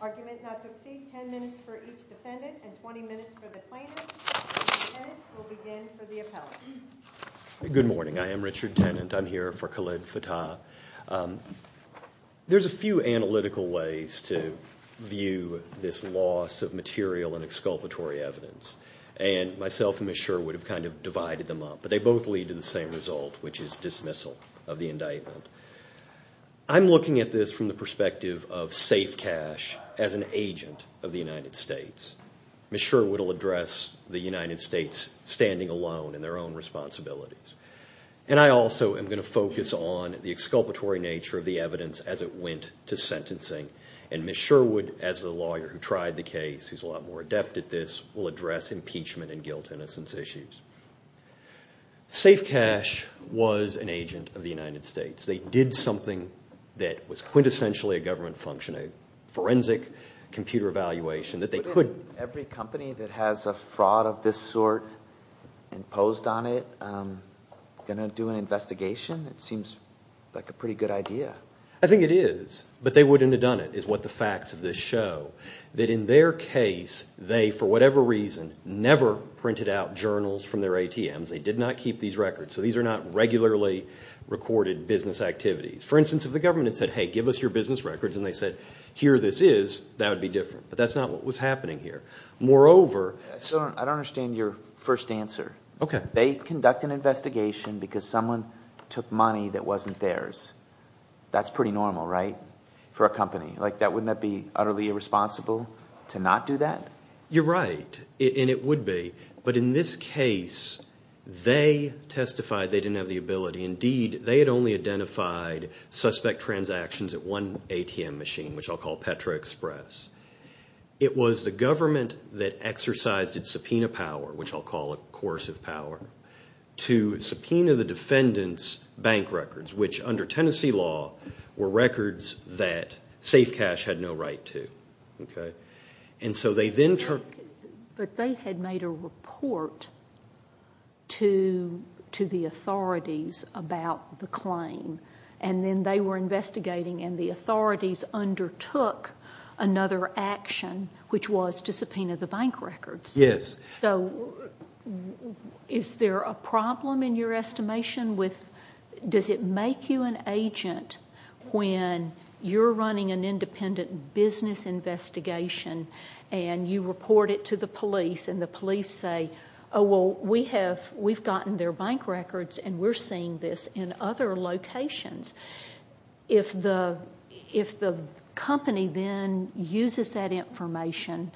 Argument not to exceed 10 minutes for each defendant and 20 minutes for the plaintiff. Good morning. I am Richard Tennant. I am here for Khaled Fattah. There are a few analytical ways to view this loss of material and exculpatory evidence. Myself and Ms. Sherwood have kind of divided them up, but they both lead to the same result, which is dismissal of the indictment. I am looking at this from the perspective of safe cash as an agent of the United States. Ms. Sherwood will address the United States standing alone in their own responsibilities. And I also am going to focus on the exculpatory nature of the evidence as it went to sentencing. And Ms. Sherwood, as the lawyer who tried the case, who is a lot more adept at this, will address impeachment and guilt-innocence issues. Safe cash was an agent of the United States. They did something that was quintessentially a government function, a forensic computer evaluation that they could... Going to do an investigation? It seems like a pretty good idea. I think it is, but they wouldn't have done it is what the facts of this show. That in their case, they, for whatever reason, never printed out journals from their ATMs. They did not keep these records. So these are not regularly recorded business activities. For instance, if the government had said, hey, give us your business records, and they said, here this is, that would be different. But that's not what was happening here. Moreover... I don't understand your first answer. Okay. They conduct an investigation because someone took money that wasn't theirs. That's pretty normal, right? For a company. Wouldn't that be utterly irresponsible to not do that? You're right. And it would be. But in this case, they testified they didn't have the ability. Indeed, they had only identified suspect transactions at one ATM machine, which I'll call Petro Express. It was the government that exercised its subpoena power, which I'll call a course of power, to subpoena the defendant's bank records, which under Tennessee law were records that Safe Cash had no right to. But they had made a report to the authorities about the claim. And then they were investigating, and the authorities undertook another action, which was to subpoena the bank records. Yes. So is there a problem in your estimation with does it make you an agent when you're running an independent business investigation and you report it to the police and the police say, oh, well, we've gotten their bank records and we're seeing this in other locations. If the company then uses that information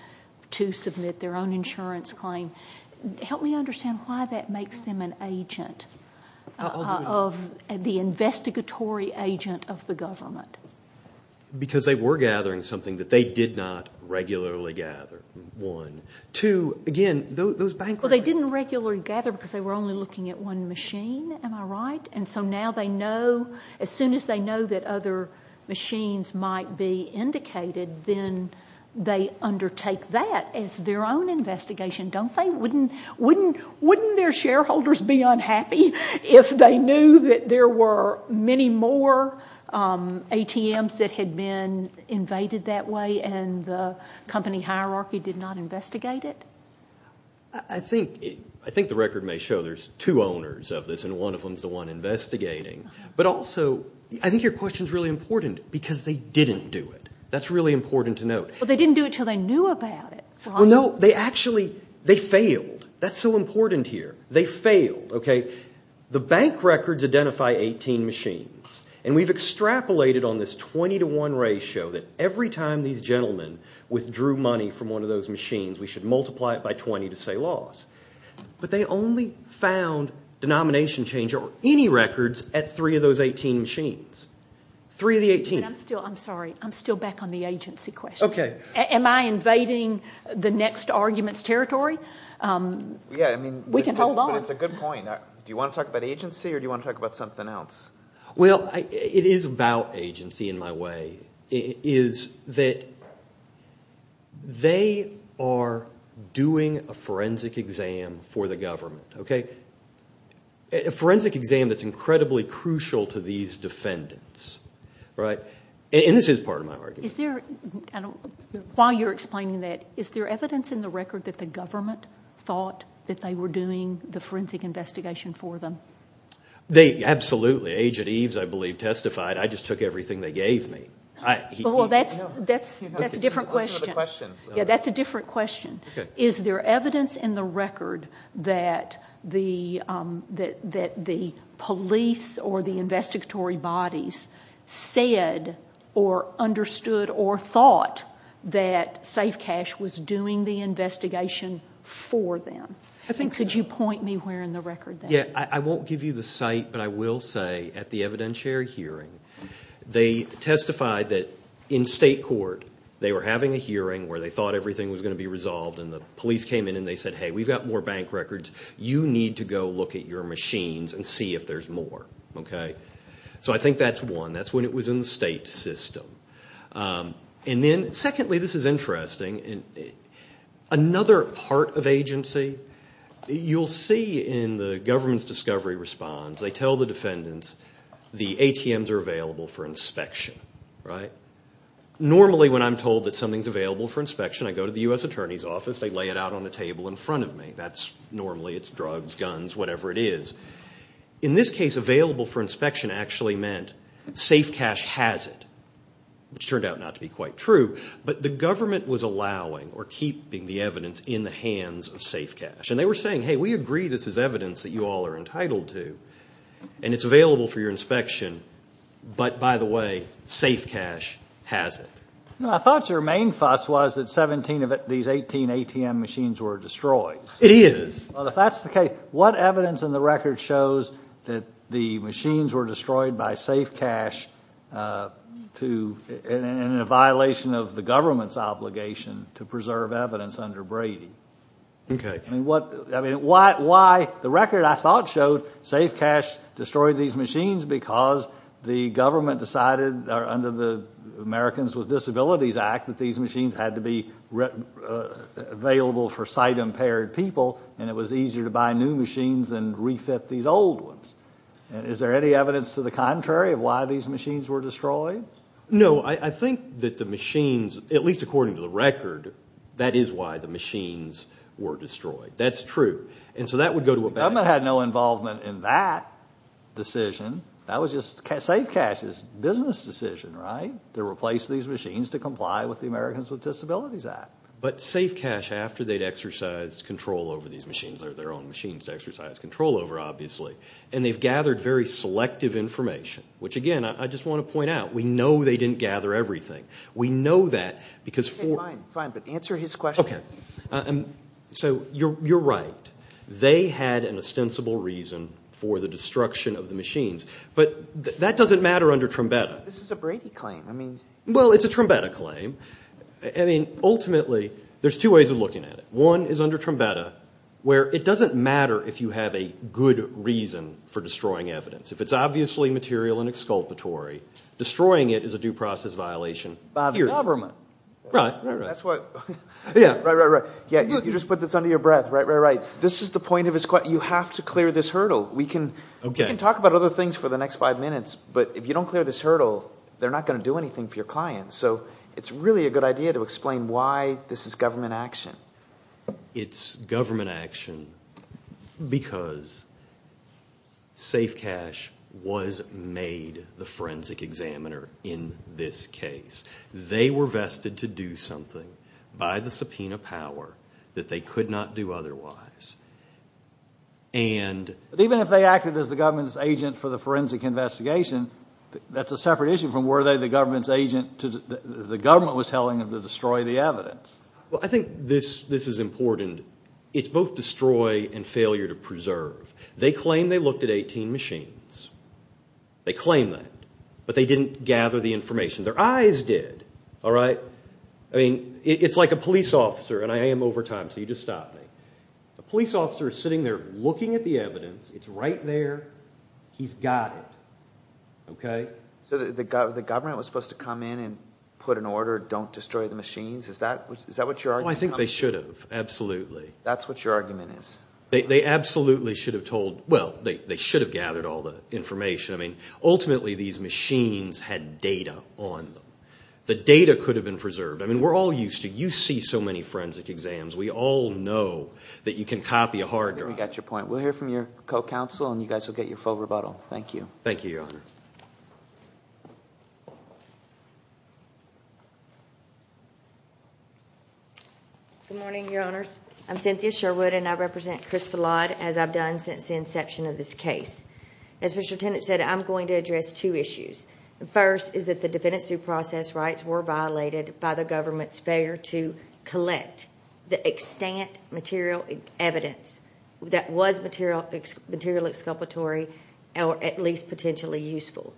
to submit their own insurance claim, help me understand why that makes them an agent, the investigatory agent of the government. Because they were gathering something that they did not regularly gather, one. Two, again, those bank records. Well, they didn't regularly gather because they were only looking at one machine. Am I right? And so now they know, as soon as they know that other machines might be indicated, then they undertake that as their own investigation, don't they? Wouldn't their shareholders be unhappy if they knew that there were many more ATMs that had been invaded that way and the company hierarchy did not investigate it? I think the record may show there's two owners of this, and one of them is the one investigating. But also I think your question is really important because they didn't do it. That's really important to note. Well, they didn't do it until they knew about it. Well, no, they actually failed. That's so important here. They failed. The bank records identify 18 machines, and we've extrapolated on this 20 to 1 ratio that every time these gentlemen withdrew money from one of those machines we should multiply it by 20 to say loss. But they only found denomination change or any records at three of those 18 machines. Three of the 18. I'm sorry. I'm still back on the agency question. Okay. Am I invading the next argument's territory? We can hold on. It's a good point. Do you want to talk about agency or do you want to talk about something else? Well, it is about agency in my way. It is that they are doing a forensic exam for the government, okay? A forensic exam that's incredibly crucial to these defendants, right? And this is part of my argument. While you're explaining that, is there evidence in the record that the government thought that they were doing the forensic investigation for them? Absolutely. Agent Eves, I believe, testified. I just took everything they gave me. Well, that's a different question. Yeah, that's a different question. Is there evidence in the record that the police or the investigatory bodies said or understood or thought that Safe Cash was doing the investigation for them? Could you point me where in the record that is? I won't give you the site, but I will say at the evidentiary hearing, they testified that in state court they were having a hearing where they thought everything was going to be resolved and the police came in and they said, hey, we've got more bank records. You need to go look at your machines and see if there's more, okay? So I think that's one. That's when it was in the state system. And then, secondly, this is interesting. Another part of agency, you'll see in the government's discovery response, they tell the defendants the ATMs are available for inspection, right? Normally when I'm told that something's available for inspection, I go to the U.S. Attorney's Office, they lay it out on the table in front of me. Normally it's drugs, guns, whatever it is. In this case, available for inspection actually meant Safe Cash has it, which turned out not to be quite true. But the government was allowing or keeping the evidence in the hands of Safe Cash. And they were saying, hey, we agree this is evidence that you all are entitled to and it's available for your inspection, but, by the way, Safe Cash has it. I thought your main fuss was that 17 of these 18 ATM machines were destroyed. It is. If that's the case, what evidence in the record shows that the machines were destroyed by Safe Cash in a violation of the government's obligation to preserve evidence under Brady? Okay. I mean, why the record I thought showed Safe Cash destroyed these machines because the government decided under the Americans with Disabilities Act that these machines had to be available for sight-impaired people and it was easier to buy new machines than refit these old ones. Is there any evidence to the contrary of why these machines were destroyed? No. I think that the machines, at least according to the record, that is why the machines were destroyed. That's true. And so that would go to a back... The government had no involvement in that decision. That was just Safe Cash's business decision, right, to replace these machines to comply with the Americans with Disabilities Act. But Safe Cash, after they'd exercised control over these machines, their own machines to exercise control over, obviously, and they've gathered very selective information, which, again, I just want to point out. We know they didn't gather everything. We know that because... Okay, fine, fine, but answer his question. Okay. So you're right. They had an ostensible reason for the destruction of the machines, but that doesn't matter under Trumbetta. This is a Brady claim. Well, it's a Trumbetta claim. I mean, ultimately, there's two ways of looking at it. One is under Trumbetta, where it doesn't matter if you have a good reason for destroying evidence. If it's obviously material and exculpatory, destroying it is a due process violation. By the government. Right, right, right. That's what... Yeah. Right, right, right. Yeah, you just put this under your breath. Right, right, right. This is the point of his question. You have to clear this hurdle. We can talk about other things for the next five minutes, but if you don't clear this hurdle, they're not going to do anything for your clients. So it's really a good idea to explain why this is government action. It's government action because Safe Cash was made the forensic examiner in this case. They were vested to do something by the subpoena power that they could not do otherwise, and... But even if they acted as the government's agent for the forensic investigation, that's a separate issue from were they the government's agent. The government was telling them to destroy the evidence. Well, I think this is important. It's both destroy and failure to preserve. They claim they looked at 18 machines. They claim that. But they didn't gather the information. Their eyes did. All right? I mean, it's like a police officer, and I am over time, so you just stop me. A police officer is sitting there looking at the evidence. It's right there. He's got it. Okay? So the government was supposed to come in and put an order, don't destroy the machines? Is that what you're arguing? Oh, I think they should have. Absolutely. That's what your argument is. They absolutely should have told... Well, they should have gathered all the information. I mean, ultimately, these machines had data on them. The data could have been preserved. I mean, we're all used to... You see so many forensic exams. We all know that you can copy a hard drive. I think we got your point. We'll hear from your co-counsel, and you guys will get your full rebuttal. Thank you. Thank you, Your Honor. Good morning, Your Honors. I'm Cynthia Sherwood, and I represent Chris Fallot as I've done since the inception of this case. As Mr. Tennant said, I'm going to address two issues. The first is that the defendants' due process rights were violated by the government's failure to collect the extant material evidence that was material exculpatory or at least potentially useful.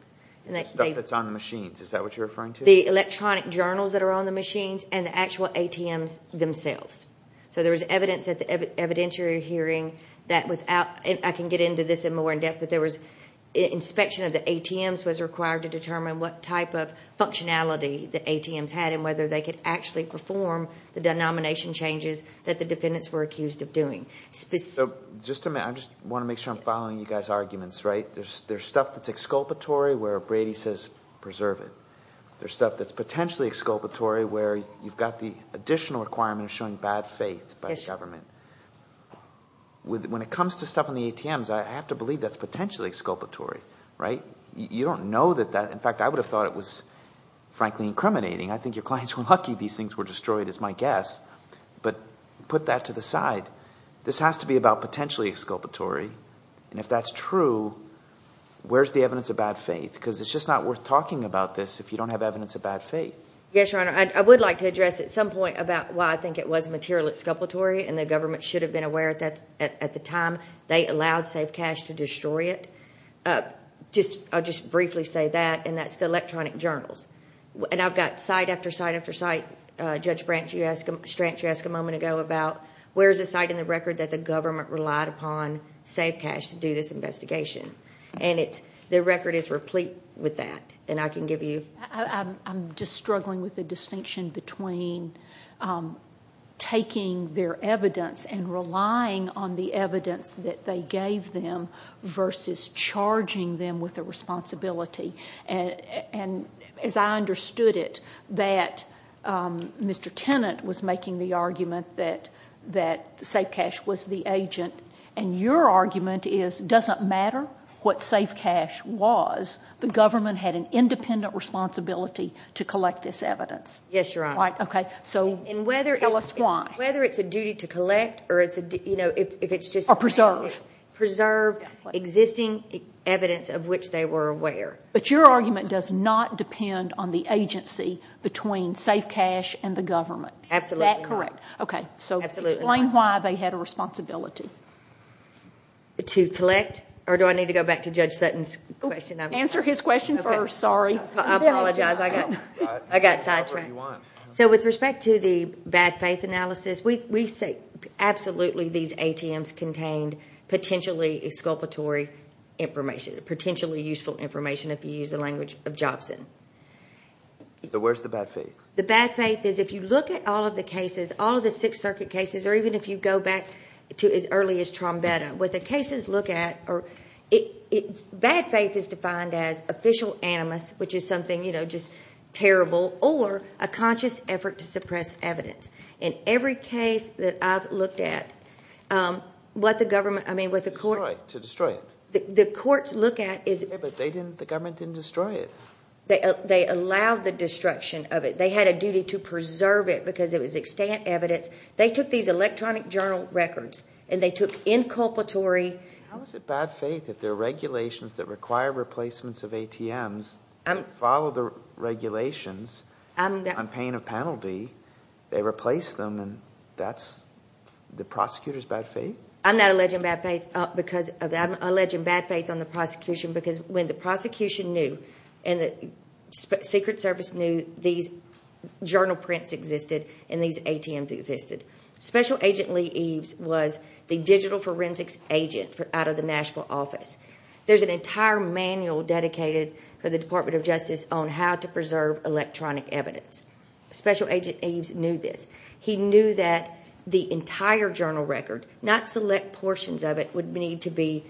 The stuff that's on the machines. Is that what you're referring to? The electronic journals that are on the machines and the actual ATMs themselves. So there was evidence at the evidentiary hearing that without... I can get into this more in depth, but there was inspection of the ATMs was required to determine what type of functionality the ATMs had and whether they could actually perform the denomination changes that the defendants were accused of doing. Just a minute. I just want to make sure I'm following you guys' arguments. There's stuff that's exculpatory where Brady says, preserve it. There's stuff that's potentially exculpatory where you've got the additional requirement of showing bad faith by the government. When it comes to stuff on the ATMs, I have to believe that's potentially exculpatory. You don't know that that... In fact, I would have thought it was, frankly, incriminating. I think your clients were lucky these things were destroyed, is my guess. But put that to the side. This has to be about potentially exculpatory, and if that's true, where's the evidence of bad faith? Because it's just not worth talking about this if you don't have evidence of bad faith. Yes, Your Honor, I would like to address at some point about why I think it was material exculpatory and the government should have been aware at the time they allowed Safe Cash to destroy it. I'll just briefly say that, and that's the electronic journals. And I've got site after site after site. Judge Stranch, you asked a moment ago about where's the site in the record that the government relied upon Safe Cash to do this investigation? And the record is replete with that, and I can give you... I'm just struggling with the distinction between taking their evidence and relying on the evidence that they gave them versus charging them with a responsibility. And as I understood it, that Mr Tennant was making the argument that Safe Cash was the agent, and your argument is it doesn't matter what Safe Cash was, the government had an independent responsibility to collect this evidence. Yes, Your Honor. Right, OK. And whether it's a duty to collect, or if it's just... Or preserve. Preserve existing evidence of which they were aware. But your argument does not depend on the agency between Safe Cash and the government. Absolutely not. Is that correct? Absolutely not. OK, so explain why they had a responsibility. To collect? Or do I need to go back to Judge Sutton's question? Answer his question first, sorry. I apologize, I got sidetracked. So with respect to the bad faith analysis, we say absolutely these ATMs contained potentially exculpatory information, potentially useful information, if you use the language of Jobson. So where's the bad faith? The bad faith is if you look at all of the cases, all of the Sixth Circuit cases, or even if you go back to as early as Trombetta, what the cases look at... Bad faith is defined as official animus, which is something just terrible, or a conscious effort to suppress evidence. In every case that I've looked at, what the government... To destroy it. The courts look at... But the government didn't destroy it. They allowed the destruction of it. They had a duty to preserve it because it was extant evidence. They took these electronic journal records, and they took inculpatory... How is it bad faith if there are regulations that require replacements of ATMs that follow the regulations? I'm paying a penalty, they replace them, and that's the prosecutor's bad faith? I'm not alleging bad faith because of that. I'm alleging bad faith on the prosecution because when the prosecution knew and the Secret Service knew, these journal prints existed and these ATMs existed. Special Agent Lee Eves was the digital forensics agent out of the Nashville office. There's an entire manual dedicated for the Department of Justice on how to preserve electronic evidence. Special Agent Eves knew this. He knew that the entire journal record, not select portions of it, would need to be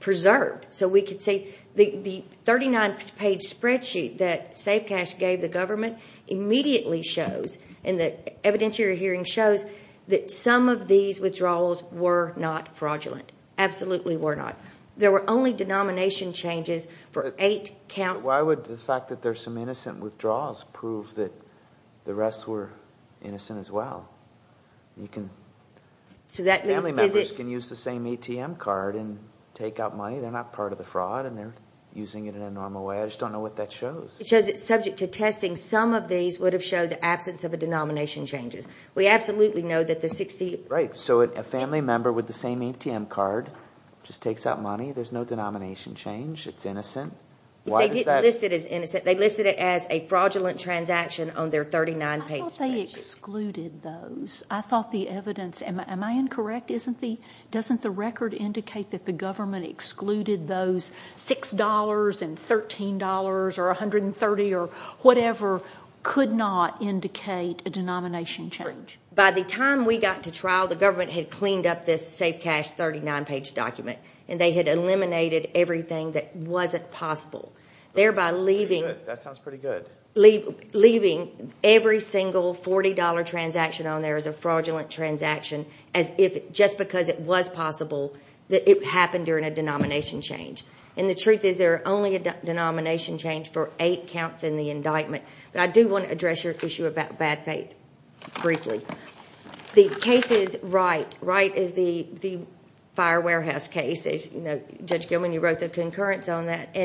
preserved so we could say... The 39-page spreadsheet that Safe Cash gave the government immediately shows, and the evidence you're hearing shows, that some of these withdrawals were not fraudulent. Absolutely were not. There were only denomination changes for eight counts. Why would the fact that there's some innocent withdrawals prove that the rest were innocent as well? Family members can use the same ATM card and take out money. They're not part of the fraud and they're using it in a normal way. I just don't know what that shows. It shows it's subject to testing. Some of these would have showed the absence of denomination changes. We absolutely know that the 60... Right, so a family member with the same ATM card just takes out money. There's no denomination change. It's innocent. They listed it as a fraudulent transaction on their 39-page spreadsheet. I thought they excluded those. I thought the evidence... Am I incorrect? Doesn't the record indicate that the government excluded those $6 and $13 or $130 or whatever could not indicate a denomination change? By the time we got to trial, the government had cleaned up this Safe Cash 39-page document and they had eliminated everything that wasn't possible, thereby leaving... That sounds pretty good. Leaving every single $40 transaction on there as a fraudulent transaction just because it was possible that it happened during a denomination change. The truth is there are only a denomination change for eight counts in the indictment. I do want to address your issue about bad faith briefly. The case is Wright. Wright is the fire warehouse case. Judge Gilman, you wrote the concurrence on that.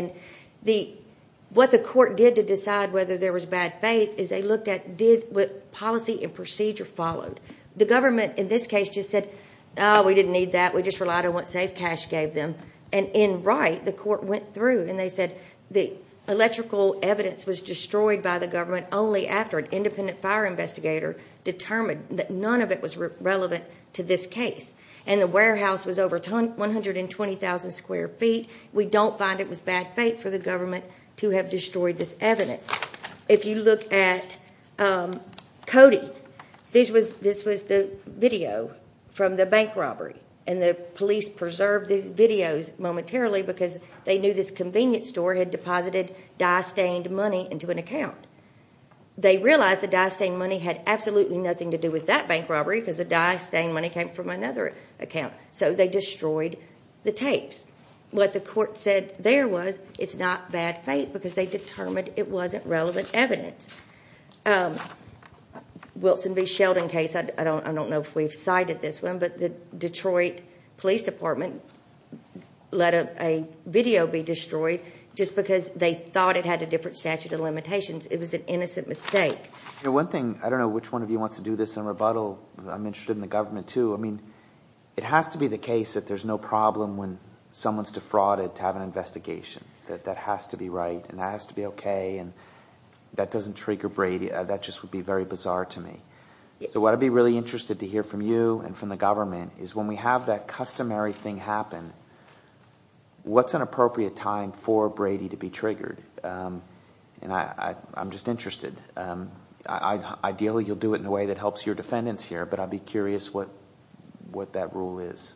What the court did to decide whether there was bad faith is they looked at what policy and procedure followed. The government in this case just said, we didn't need that, we just relied on what Safe Cash gave them. In Wright, the court went through and they said the electrical evidence was destroyed by the government only after an independent fire investigator determined that none of it was relevant to this case. The warehouse was over 120,000 square feet. We don't find it was bad faith for the government to have destroyed this evidence. If you look at Cody, this was the video from the bank robbery. The police preserved these videos momentarily because they knew this convenience store had deposited dye-stained money into an account. They realized the dye-stained money had absolutely nothing to do with that bank robbery because the dye-stained money came from another account, so they destroyed the tapes. What the court said there was it's not bad faith because they determined it wasn't relevant evidence. Wilson v. Sheldon case, I don't know if we've cited this one, but the Detroit Police Department let a video be destroyed just because they thought it had a different statute of limitations. It was an innocent mistake. One thing, I don't know which one of you wants to do this in rebuttal. I'm interested in the government too. It has to be the case that there's no problem when someone's defrauded to have an investigation. That has to be right and that has to be okay. That doesn't trigger Brady. That just would be very bizarre to me. What I'd be really interested to hear from you and from the government is when we have that customary thing happen, what's an appropriate time for Brady to be triggered? I'm just interested. Ideally, you'll do it in a way that helps your defendants here, but I'd be curious what that rule is.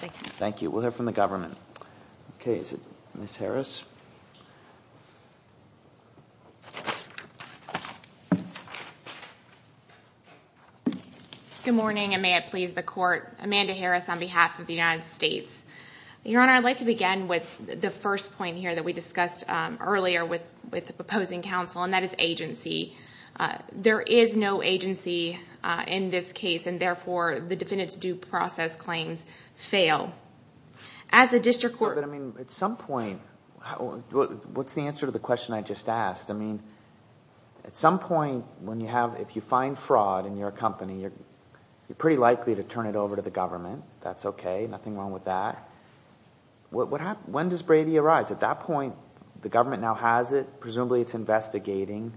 Thank you. We'll hear from the government. Ms. Harris. Good morning, and may it please the Court. Amanda Harris on behalf of the United States. Your Honor, I'd like to begin with the first point here that we discussed earlier with the proposing counsel, and that is agency. There is no agency in this case, and therefore the defendant's due process claims fail. As a district court... But at some point... What's the answer to the question I just asked? At some point, if you find fraud in your company, you're pretty likely to turn it over to the government. That's okay. Nothing wrong with that. When does Brady arise? At that point, the government now has it. Presumably it's investigating.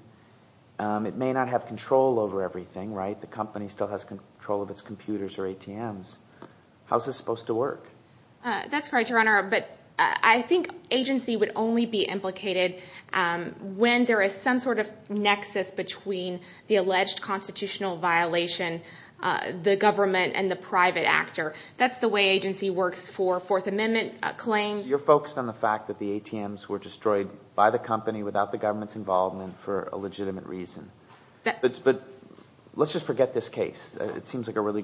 It may not have control over everything, right? The company still has control of its computers or ATMs. How is this supposed to work? That's correct, Your Honor, but I think agency would only be implicated when there is some sort of nexus between the alleged constitutional violation, the government, and the private actor. That's the way agency works for Fourth Amendment claims. You're focused on the fact that the ATMs were destroyed by the company without the government's involvement for a legitimate reason. But let's just forget this case. It seems like a really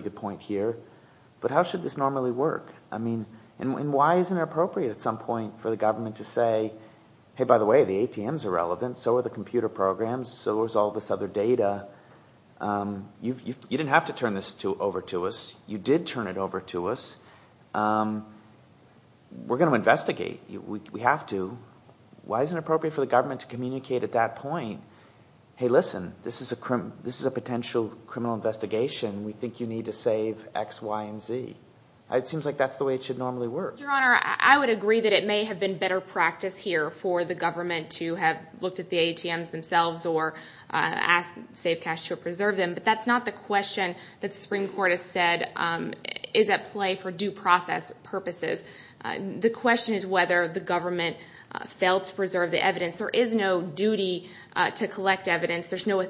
good point here. But how should this normally work? And why isn't it appropriate at some point for the government to say, hey, by the way, the ATMs are relevant. So are the computer programs. So is all this other data. You didn't have to turn this over to us. You did turn it over to us. We're going to investigate. We have to. Why isn't it appropriate for the government to communicate at that point, hey, listen, this is a potential criminal investigation. We think you need to save X, Y, and Z. It seems like that's the way it should normally work. Your Honor, I would agree that it may have been better practice here for the government to have looked at the ATMs themselves or asked to save cash to preserve them. But that's not the question that the Supreme Court has said is at play for due process purposes. The question is whether the government failed to preserve the evidence. There is no duty to collect evidence. There's no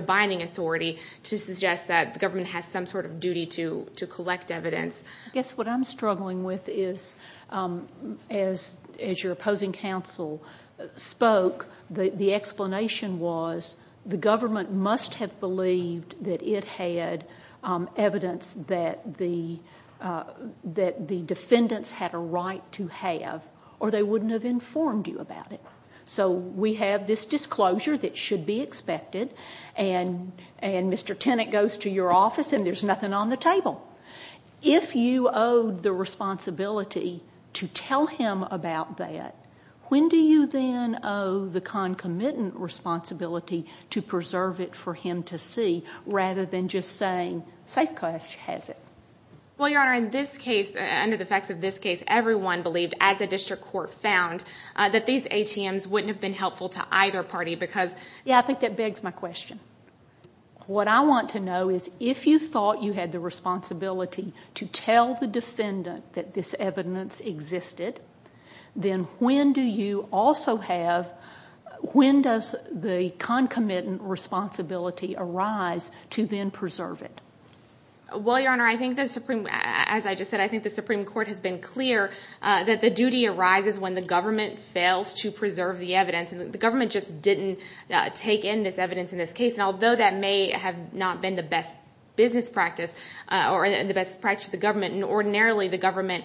binding authority to suggest that the government has some sort of duty to collect evidence. I guess what I'm struggling with is, as your opposing counsel spoke, the explanation was the government must have believed that it had evidence that the defendants had a right to have or they wouldn't have informed you about it. So we have this disclosure that should be expected and Mr. Tennant goes to your office and there's nothing on the table. If you owe the responsibility to tell him about that, when do you then owe the concomitant responsibility to preserve it for him to see rather than just saying safe cash has it? Well, Your Honor, in this case, under the effects of this case, everyone believed, as the district court found, that these ATMs wouldn't have been helpful to either party because... Yeah, I think that begs my question. What I want to know is if you thought you had the responsibility to tell the defendant that this evidence existed, then when do you also have... the concomitant responsibility arise to then preserve it? Well, Your Honor, I think the Supreme... As I just said, I think the Supreme Court has been clear that the duty arises when the government fails to preserve the evidence and the government just didn't take in this evidence in this case and although that may have not been the best business practice or the best practice of the government, ordinarily the government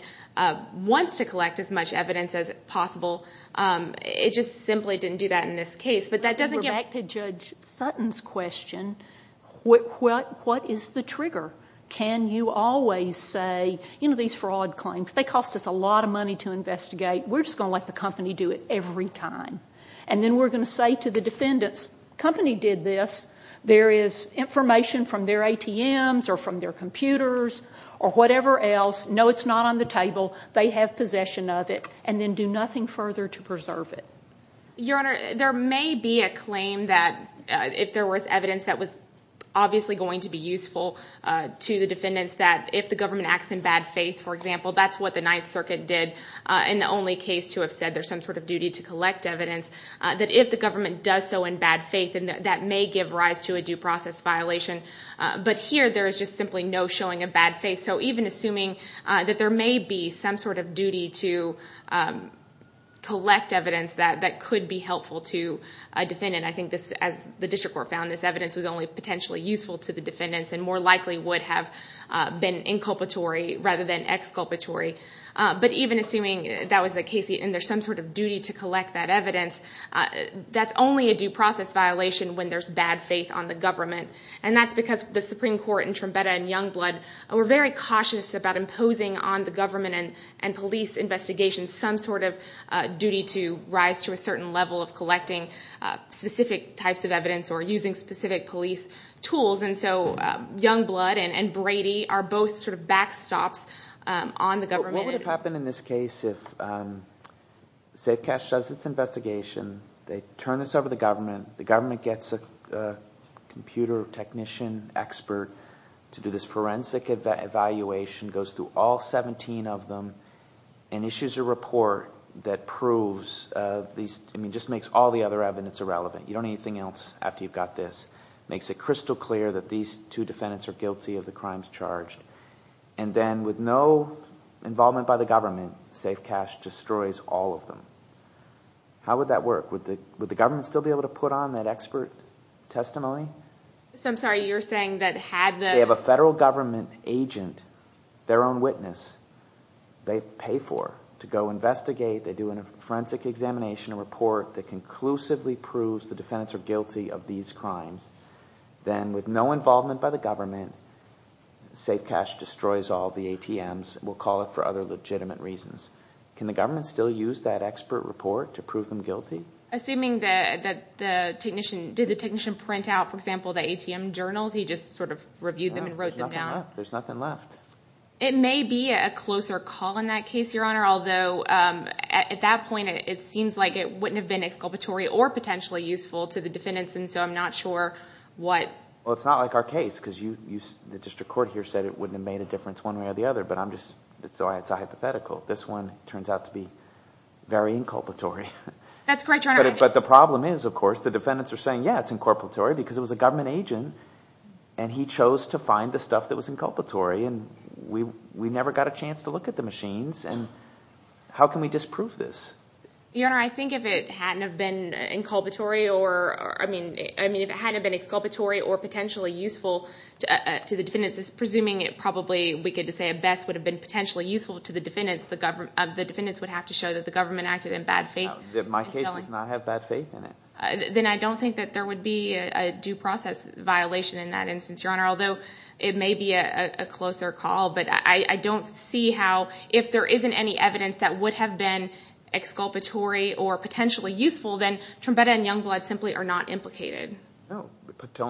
wants to collect as much evidence as possible, it just simply didn't do that in this case. But that doesn't give... Back to Judge Sutton's question, what is the trigger? Can you always say, you know, these fraud claims, they cost us a lot of money to investigate, we're just going to let the company do it every time. And then we're going to say to the defendants, company did this, there is information from their ATMs or from their computers or whatever else, no, it's not on the table, they have possession of it, and then do nothing further to preserve it. Your Honor, there may be a claim that if there was evidence that was obviously going to be useful to the defendants that if the government acts in bad faith, for example, that's what the Ninth Circuit did in the only case to have said there's some sort of duty to collect evidence, that if the government does so in bad faith, that may give rise to a due process violation. But here there is just simply no showing of bad faith, so even assuming that there may be some sort of duty to collect evidence that could be helpful to a defendant, I think this, as the District Court found, this evidence was only potentially useful to the defendants and more likely would have been inculpatory rather than exculpatory. But even assuming that was the case and there's some sort of duty to collect that evidence, that's only a due process violation when there's bad faith on the government. And that's because the Supreme Court in Trumbetta and Youngblood were very cautious about imposing on the government and police investigations some sort of duty to rise to a certain level of collecting specific types of evidence or using specific police tools. And so Youngblood and Brady are both sort of backstops on the government. What would have happened in this case if Safe Cash does this investigation, they turn this over to the government, the government gets a computer technician expert to do this forensic evaluation, goes through all 17 of them and issues a report that proves these, I mean just makes all the other evidence irrelevant. You don't need anything else after you've got this. Makes it crystal clear that these two defendants are guilty of the crimes charged. And then with no involvement by the government, Safe Cash destroys all of them. How would that work? Would the government still be able to put on that expert testimony? So I'm sorry, you're saying that had the... their own witness they pay for to go investigate, they do a forensic examination report that conclusively proves the defendants are guilty of these crimes, then with no involvement by the government, Safe Cash destroys all the ATMs. We'll call it for other legitimate reasons. Can the government still use that expert report to prove them guilty? Assuming that the technician, did the technician print out, for example, the ATM journals? He just sort of reviewed them and wrote them down. There's nothing left. It may be a closer call in that case, Your Honor, although at that point, it seems like it wouldn't have been exculpatory or potentially useful to the defendants and so I'm not sure what... Well, it's not like our case because the district court here said it wouldn't have made a difference one way or the other, but I'm just... it's a hypothetical. This one turns out to be very inculpatory. That's correct, Your Honor. But the problem is, of course, the defendants are saying, yeah, it's inculpatory because it was a government agent and he chose to find the stuff that was inculpatory and we never got a chance to look at the machines and how can we disprove this? Your Honor, I think if it hadn't have been inculpatory or, I mean, if it hadn't have been exculpatory or potentially useful to the defendants, presuming it probably, we could say, at best, would have been potentially useful to the defendants, the defendants would have to show that the government acted in bad faith. My case does not have bad faith in it. Then I don't think that there would be a due process violation in that instance, Your Honor, although it may be a closer call, but I don't see how if there isn't any evidence that would have been exculpatory or potentially useful, then Trombetta and Youngblood simply are not implicated. No,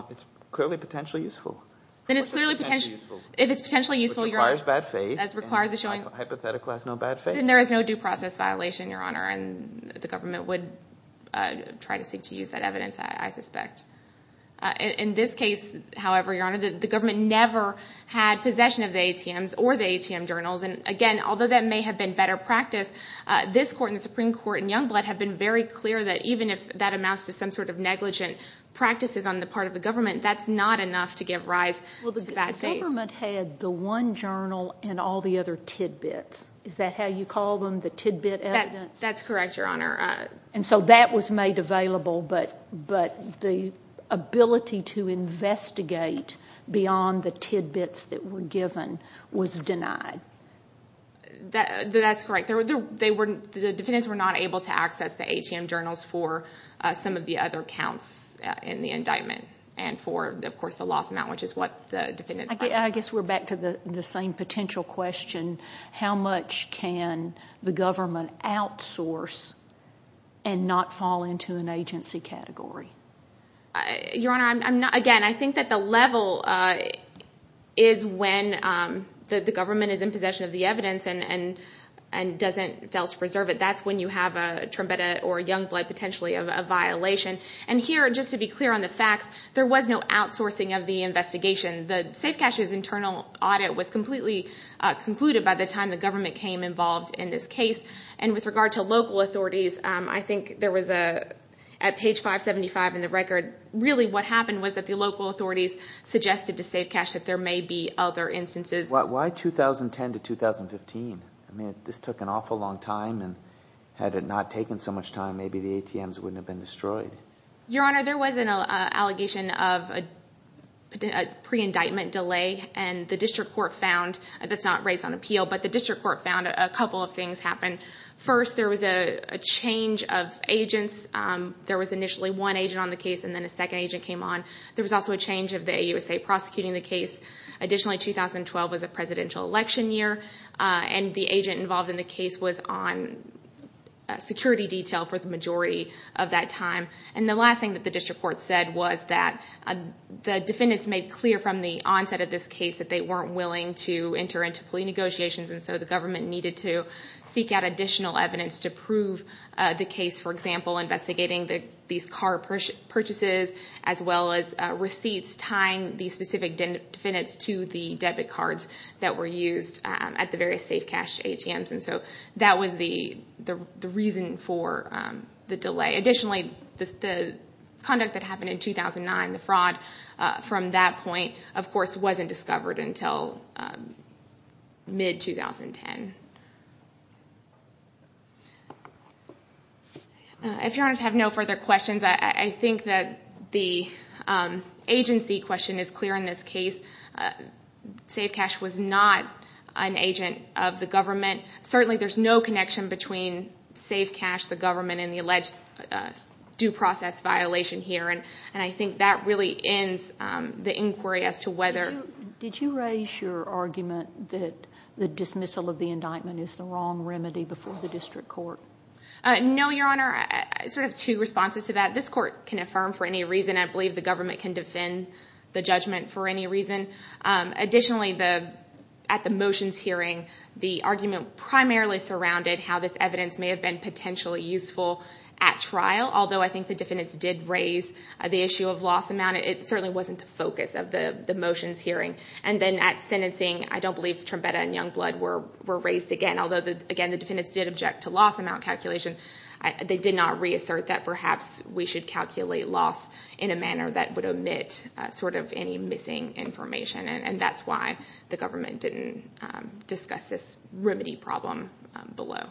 it's clearly potentially useful. Then it's clearly potentially useful. If it's potentially useful, Your Honor... Which requires bad faith. That requires a showing... Hypothetically has no bad faith. Then there is no due process violation, Your Honor, and the government would try to seek to use that evidence, I suspect. In this case, however, Your Honor, the government never had possession of the ATMs or the ATM journals, and again, although that may have been better practice, this Court and the Supreme Court and Youngblood have been very clear that even if that amounts to some sort of negligent practices on the part of the government, that's not enough to give rise to bad faith. Well, the government had the one journal and all the other tidbits. Is that how you call them, the tidbit evidence? That's correct, Your Honor. So that was made available, but the ability to investigate beyond the tidbits that were given was denied? That's correct. The defendants were not able to access the ATM journals for some of the other counts in the indictment and for, of course, the lost amount, which is what the defendants... I guess we're back to the same potential question. How much can the government outsource and not fall into an agency category? Your Honor, I'm not... Again, I think that the level is when the government is in possession of the evidence and doesn't... fails to preserve it. That's when you have a Trombetta or Youngblood potentially a violation. And here, just to be clear on the facts, there was no outsourcing of the investigation. The Safe Cash's internal audit was completely concluded by the time the government came involved in this case. And with regard to local authorities, I think there was a... at page 575 in the record, really what happened was that the local authorities suggested to Safe Cash that there may be other instances. Why 2010 to 2015? I mean, this took an awful long time, and had it not taken so much time, maybe the ATMs wouldn't have been destroyed. Your Honor, there was an allegation of a pre-indictment delay, and the district court found... That's not based on appeal, but the district court found a couple of things happen. First, there was a change of agents. There was initially one agent on the case, and then a second agent came on. There was also a change of the AUSA prosecuting the case. Additionally, 2012 was a presidential election year, and the agent involved in the case was on security detail for the majority of that time. And the last thing that the district court said was that the defendants made clear from the onset of this case that they weren't willing to enter into plea negotiations, and so the government needed to seek out additional evidence to prove the case. For example, investigating these car purchases, as well as receipts tying the specific defendants to the debit cards that were used at the various Safe Cash ATMs. And so that was the reason for the delay. Additionally, the conduct that happened in 2009, the fraud from that point, of course, wasn't discovered until mid-2010. If you want to have no further questions, I think that the agency question is clear in this case. Safe Cash was not an agent of the government. And the alleged due process violation here, and I think that really ends the inquiry as to whether— Did you raise your argument that the dismissal of the indictment is the wrong remedy before the district court? No, Your Honor. I sort of have two responses to that. This court can affirm for any reason. I believe the government can defend the judgment for any reason. Additionally, at the motions hearing, the argument primarily surrounded how this evidence may have been potentially useful at trial, although I think the defendants did raise the issue of loss amount. It certainly wasn't the focus of the motions hearing. And then at sentencing, I don't believe Trombetta and Youngblood were raised again, although, again, the defendants did object to loss amount calculation. They did not reassert that perhaps we should calculate loss in a manner that would omit sort of any missing information, and that's why the government didn't discuss this remedy problem below.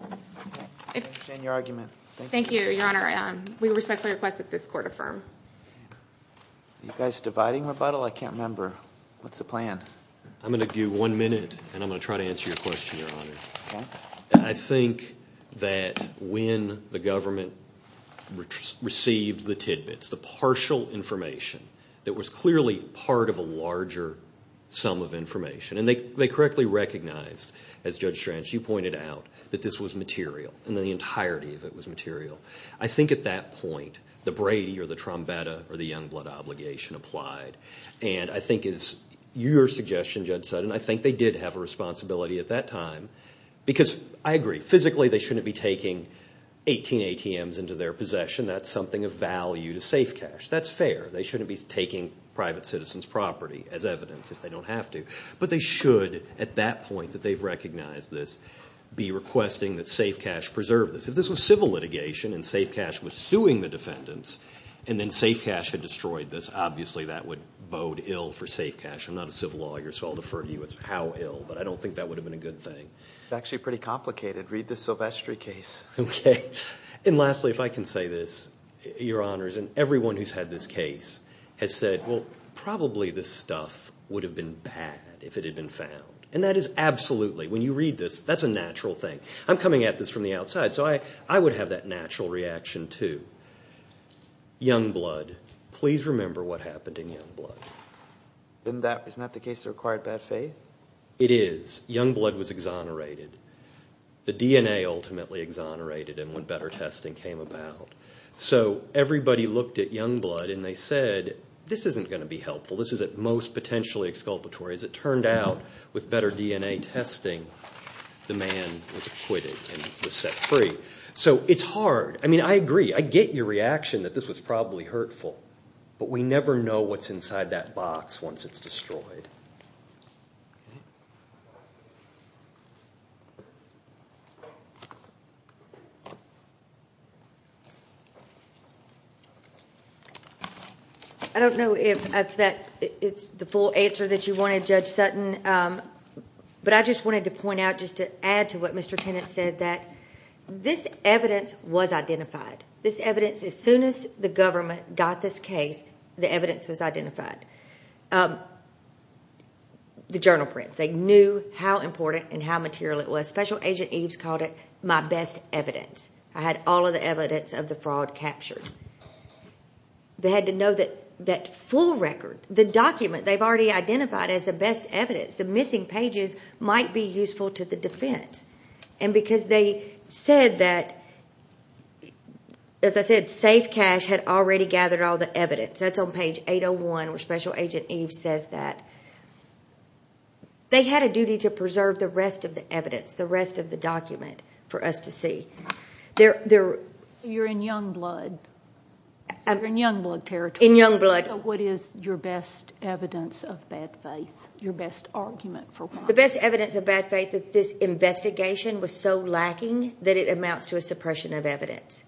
I understand your argument. Thank you, Your Honor. We respectfully request that this court affirm. Are you guys dividing, Rebuttal? I can't remember. What's the plan? I'm going to give you one minute, and I'm going to try to answer your question, Your Honor. Okay. I think that when the government received the tidbits, the partial information that was clearly part of a larger sum of information, and they correctly recognized, as Judge Stranch, you pointed out, that this was material, and that the entirety of it was material. I think at that point the Brady or the Trombetta or the Youngblood obligation applied, and I think it's your suggestion, Judge Sutton, I think they did have a responsibility at that time, because I agree, physically they shouldn't be taking 18 ATMs into their possession. That's something of value to Safe Cash. That's fair. They shouldn't be taking private citizens' property as evidence if they don't have to. But they should, at that point that they've recognized this, be requesting that Safe Cash preserve this. If this was civil litigation and Safe Cash was suing the defendants and then Safe Cash had destroyed this, obviously that would bode ill for Safe Cash. I'm not a civil lawyer, so I'll defer to you as to how ill, but I don't think that would have been a good thing. It's actually pretty complicated. Read the Silvestri case. Okay. And lastly, if I can say this, Your Honors, and everyone who's had this case has said, well, probably this stuff would have been bad if it had been found. And that is absolutely, when you read this, that's a natural thing. I'm coming at this from the outside, so I would have that natural reaction too. Youngblood, please remember what happened in Youngblood. Isn't that the case that required bad faith? It is. Youngblood was exonerated. The DNA ultimately exonerated him when better testing came about. So everybody looked at Youngblood and they said, this isn't going to be helpful. This is at most potentially exculpatory. As it turned out, with better DNA testing, the man was acquitted and was set free. So it's hard. I mean, I agree. I get your reaction that this was probably hurtful, but we never know what's inside that box once it's destroyed. I don't know if that is the full answer that you wanted, Judge Sutton, but I just wanted to point out, just to add to what Mr. Tennant said, that this evidence was identified. This evidence, as soon as the government got this case, the evidence was identified. The journal prints, they knew how important and how material it was. Special Agent Eves called it my best evidence. I had all of the evidence of the fraud captured. They had to know that that full record, the document they've already identified as the best evidence, the missing pages, might be useful to the defense. And because they said that, as I said, Safe Cash had already gathered all the evidence. That's on page 801, where Special Agent Eves says that. They had a duty to preserve the rest of the evidence, the rest of the document for us to see. You're in Youngblood. You're in Youngblood territory. In Youngblood. So what is your best evidence of bad faith, your best argument for why? The best evidence of bad faith, that this investigation was so lacking that it amounts to a suppression of evidence.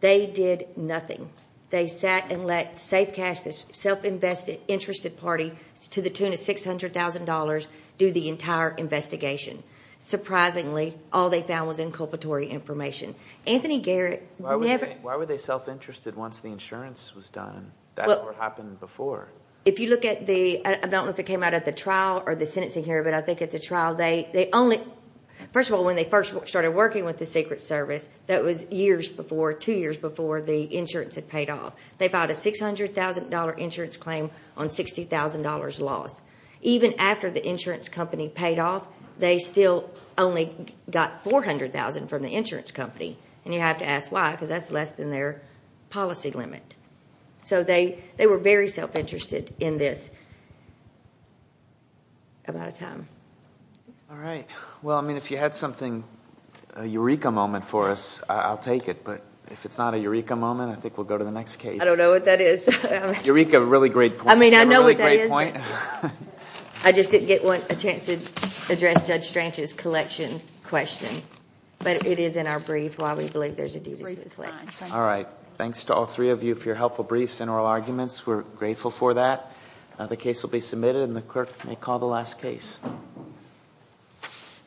They did nothing. They sat and let Safe Cash, this self-interested party, to the tune of $600,000, do the entire investigation. Surprisingly, all they found was inculpatory information. Anthony Garrett never... Why were they self-interested once the insurance was done? That's what happened before. If you look at the... I don't know if it came out of the trial or the sentencing here, but I think at the trial they only... First of all, when they first started working with the Secret Service, that was years before, two years before, the insurance had paid off. They filed a $600,000 insurance claim on $60,000 loss. Even after the insurance company paid off, they still only got $400,000 from the insurance company. And you have to ask why, because that's less than their policy limit. They were very self-interested in this amount of time. All right. Well, I mean, if you had something, a Eureka moment for us, I'll take it. But if it's not a Eureka moment, I think we'll go to the next case. I don't know what that is. Eureka, a really great point. I mean, I know what that is, but I just didn't get a chance to address Judge Strange's collection question. But it is in our brief while we believe there's a duty to reflect. All right. Thanks to all three of you for your helpful briefs and oral arguments. We're grateful for that. The case will be submitted, and the clerk may call the last case.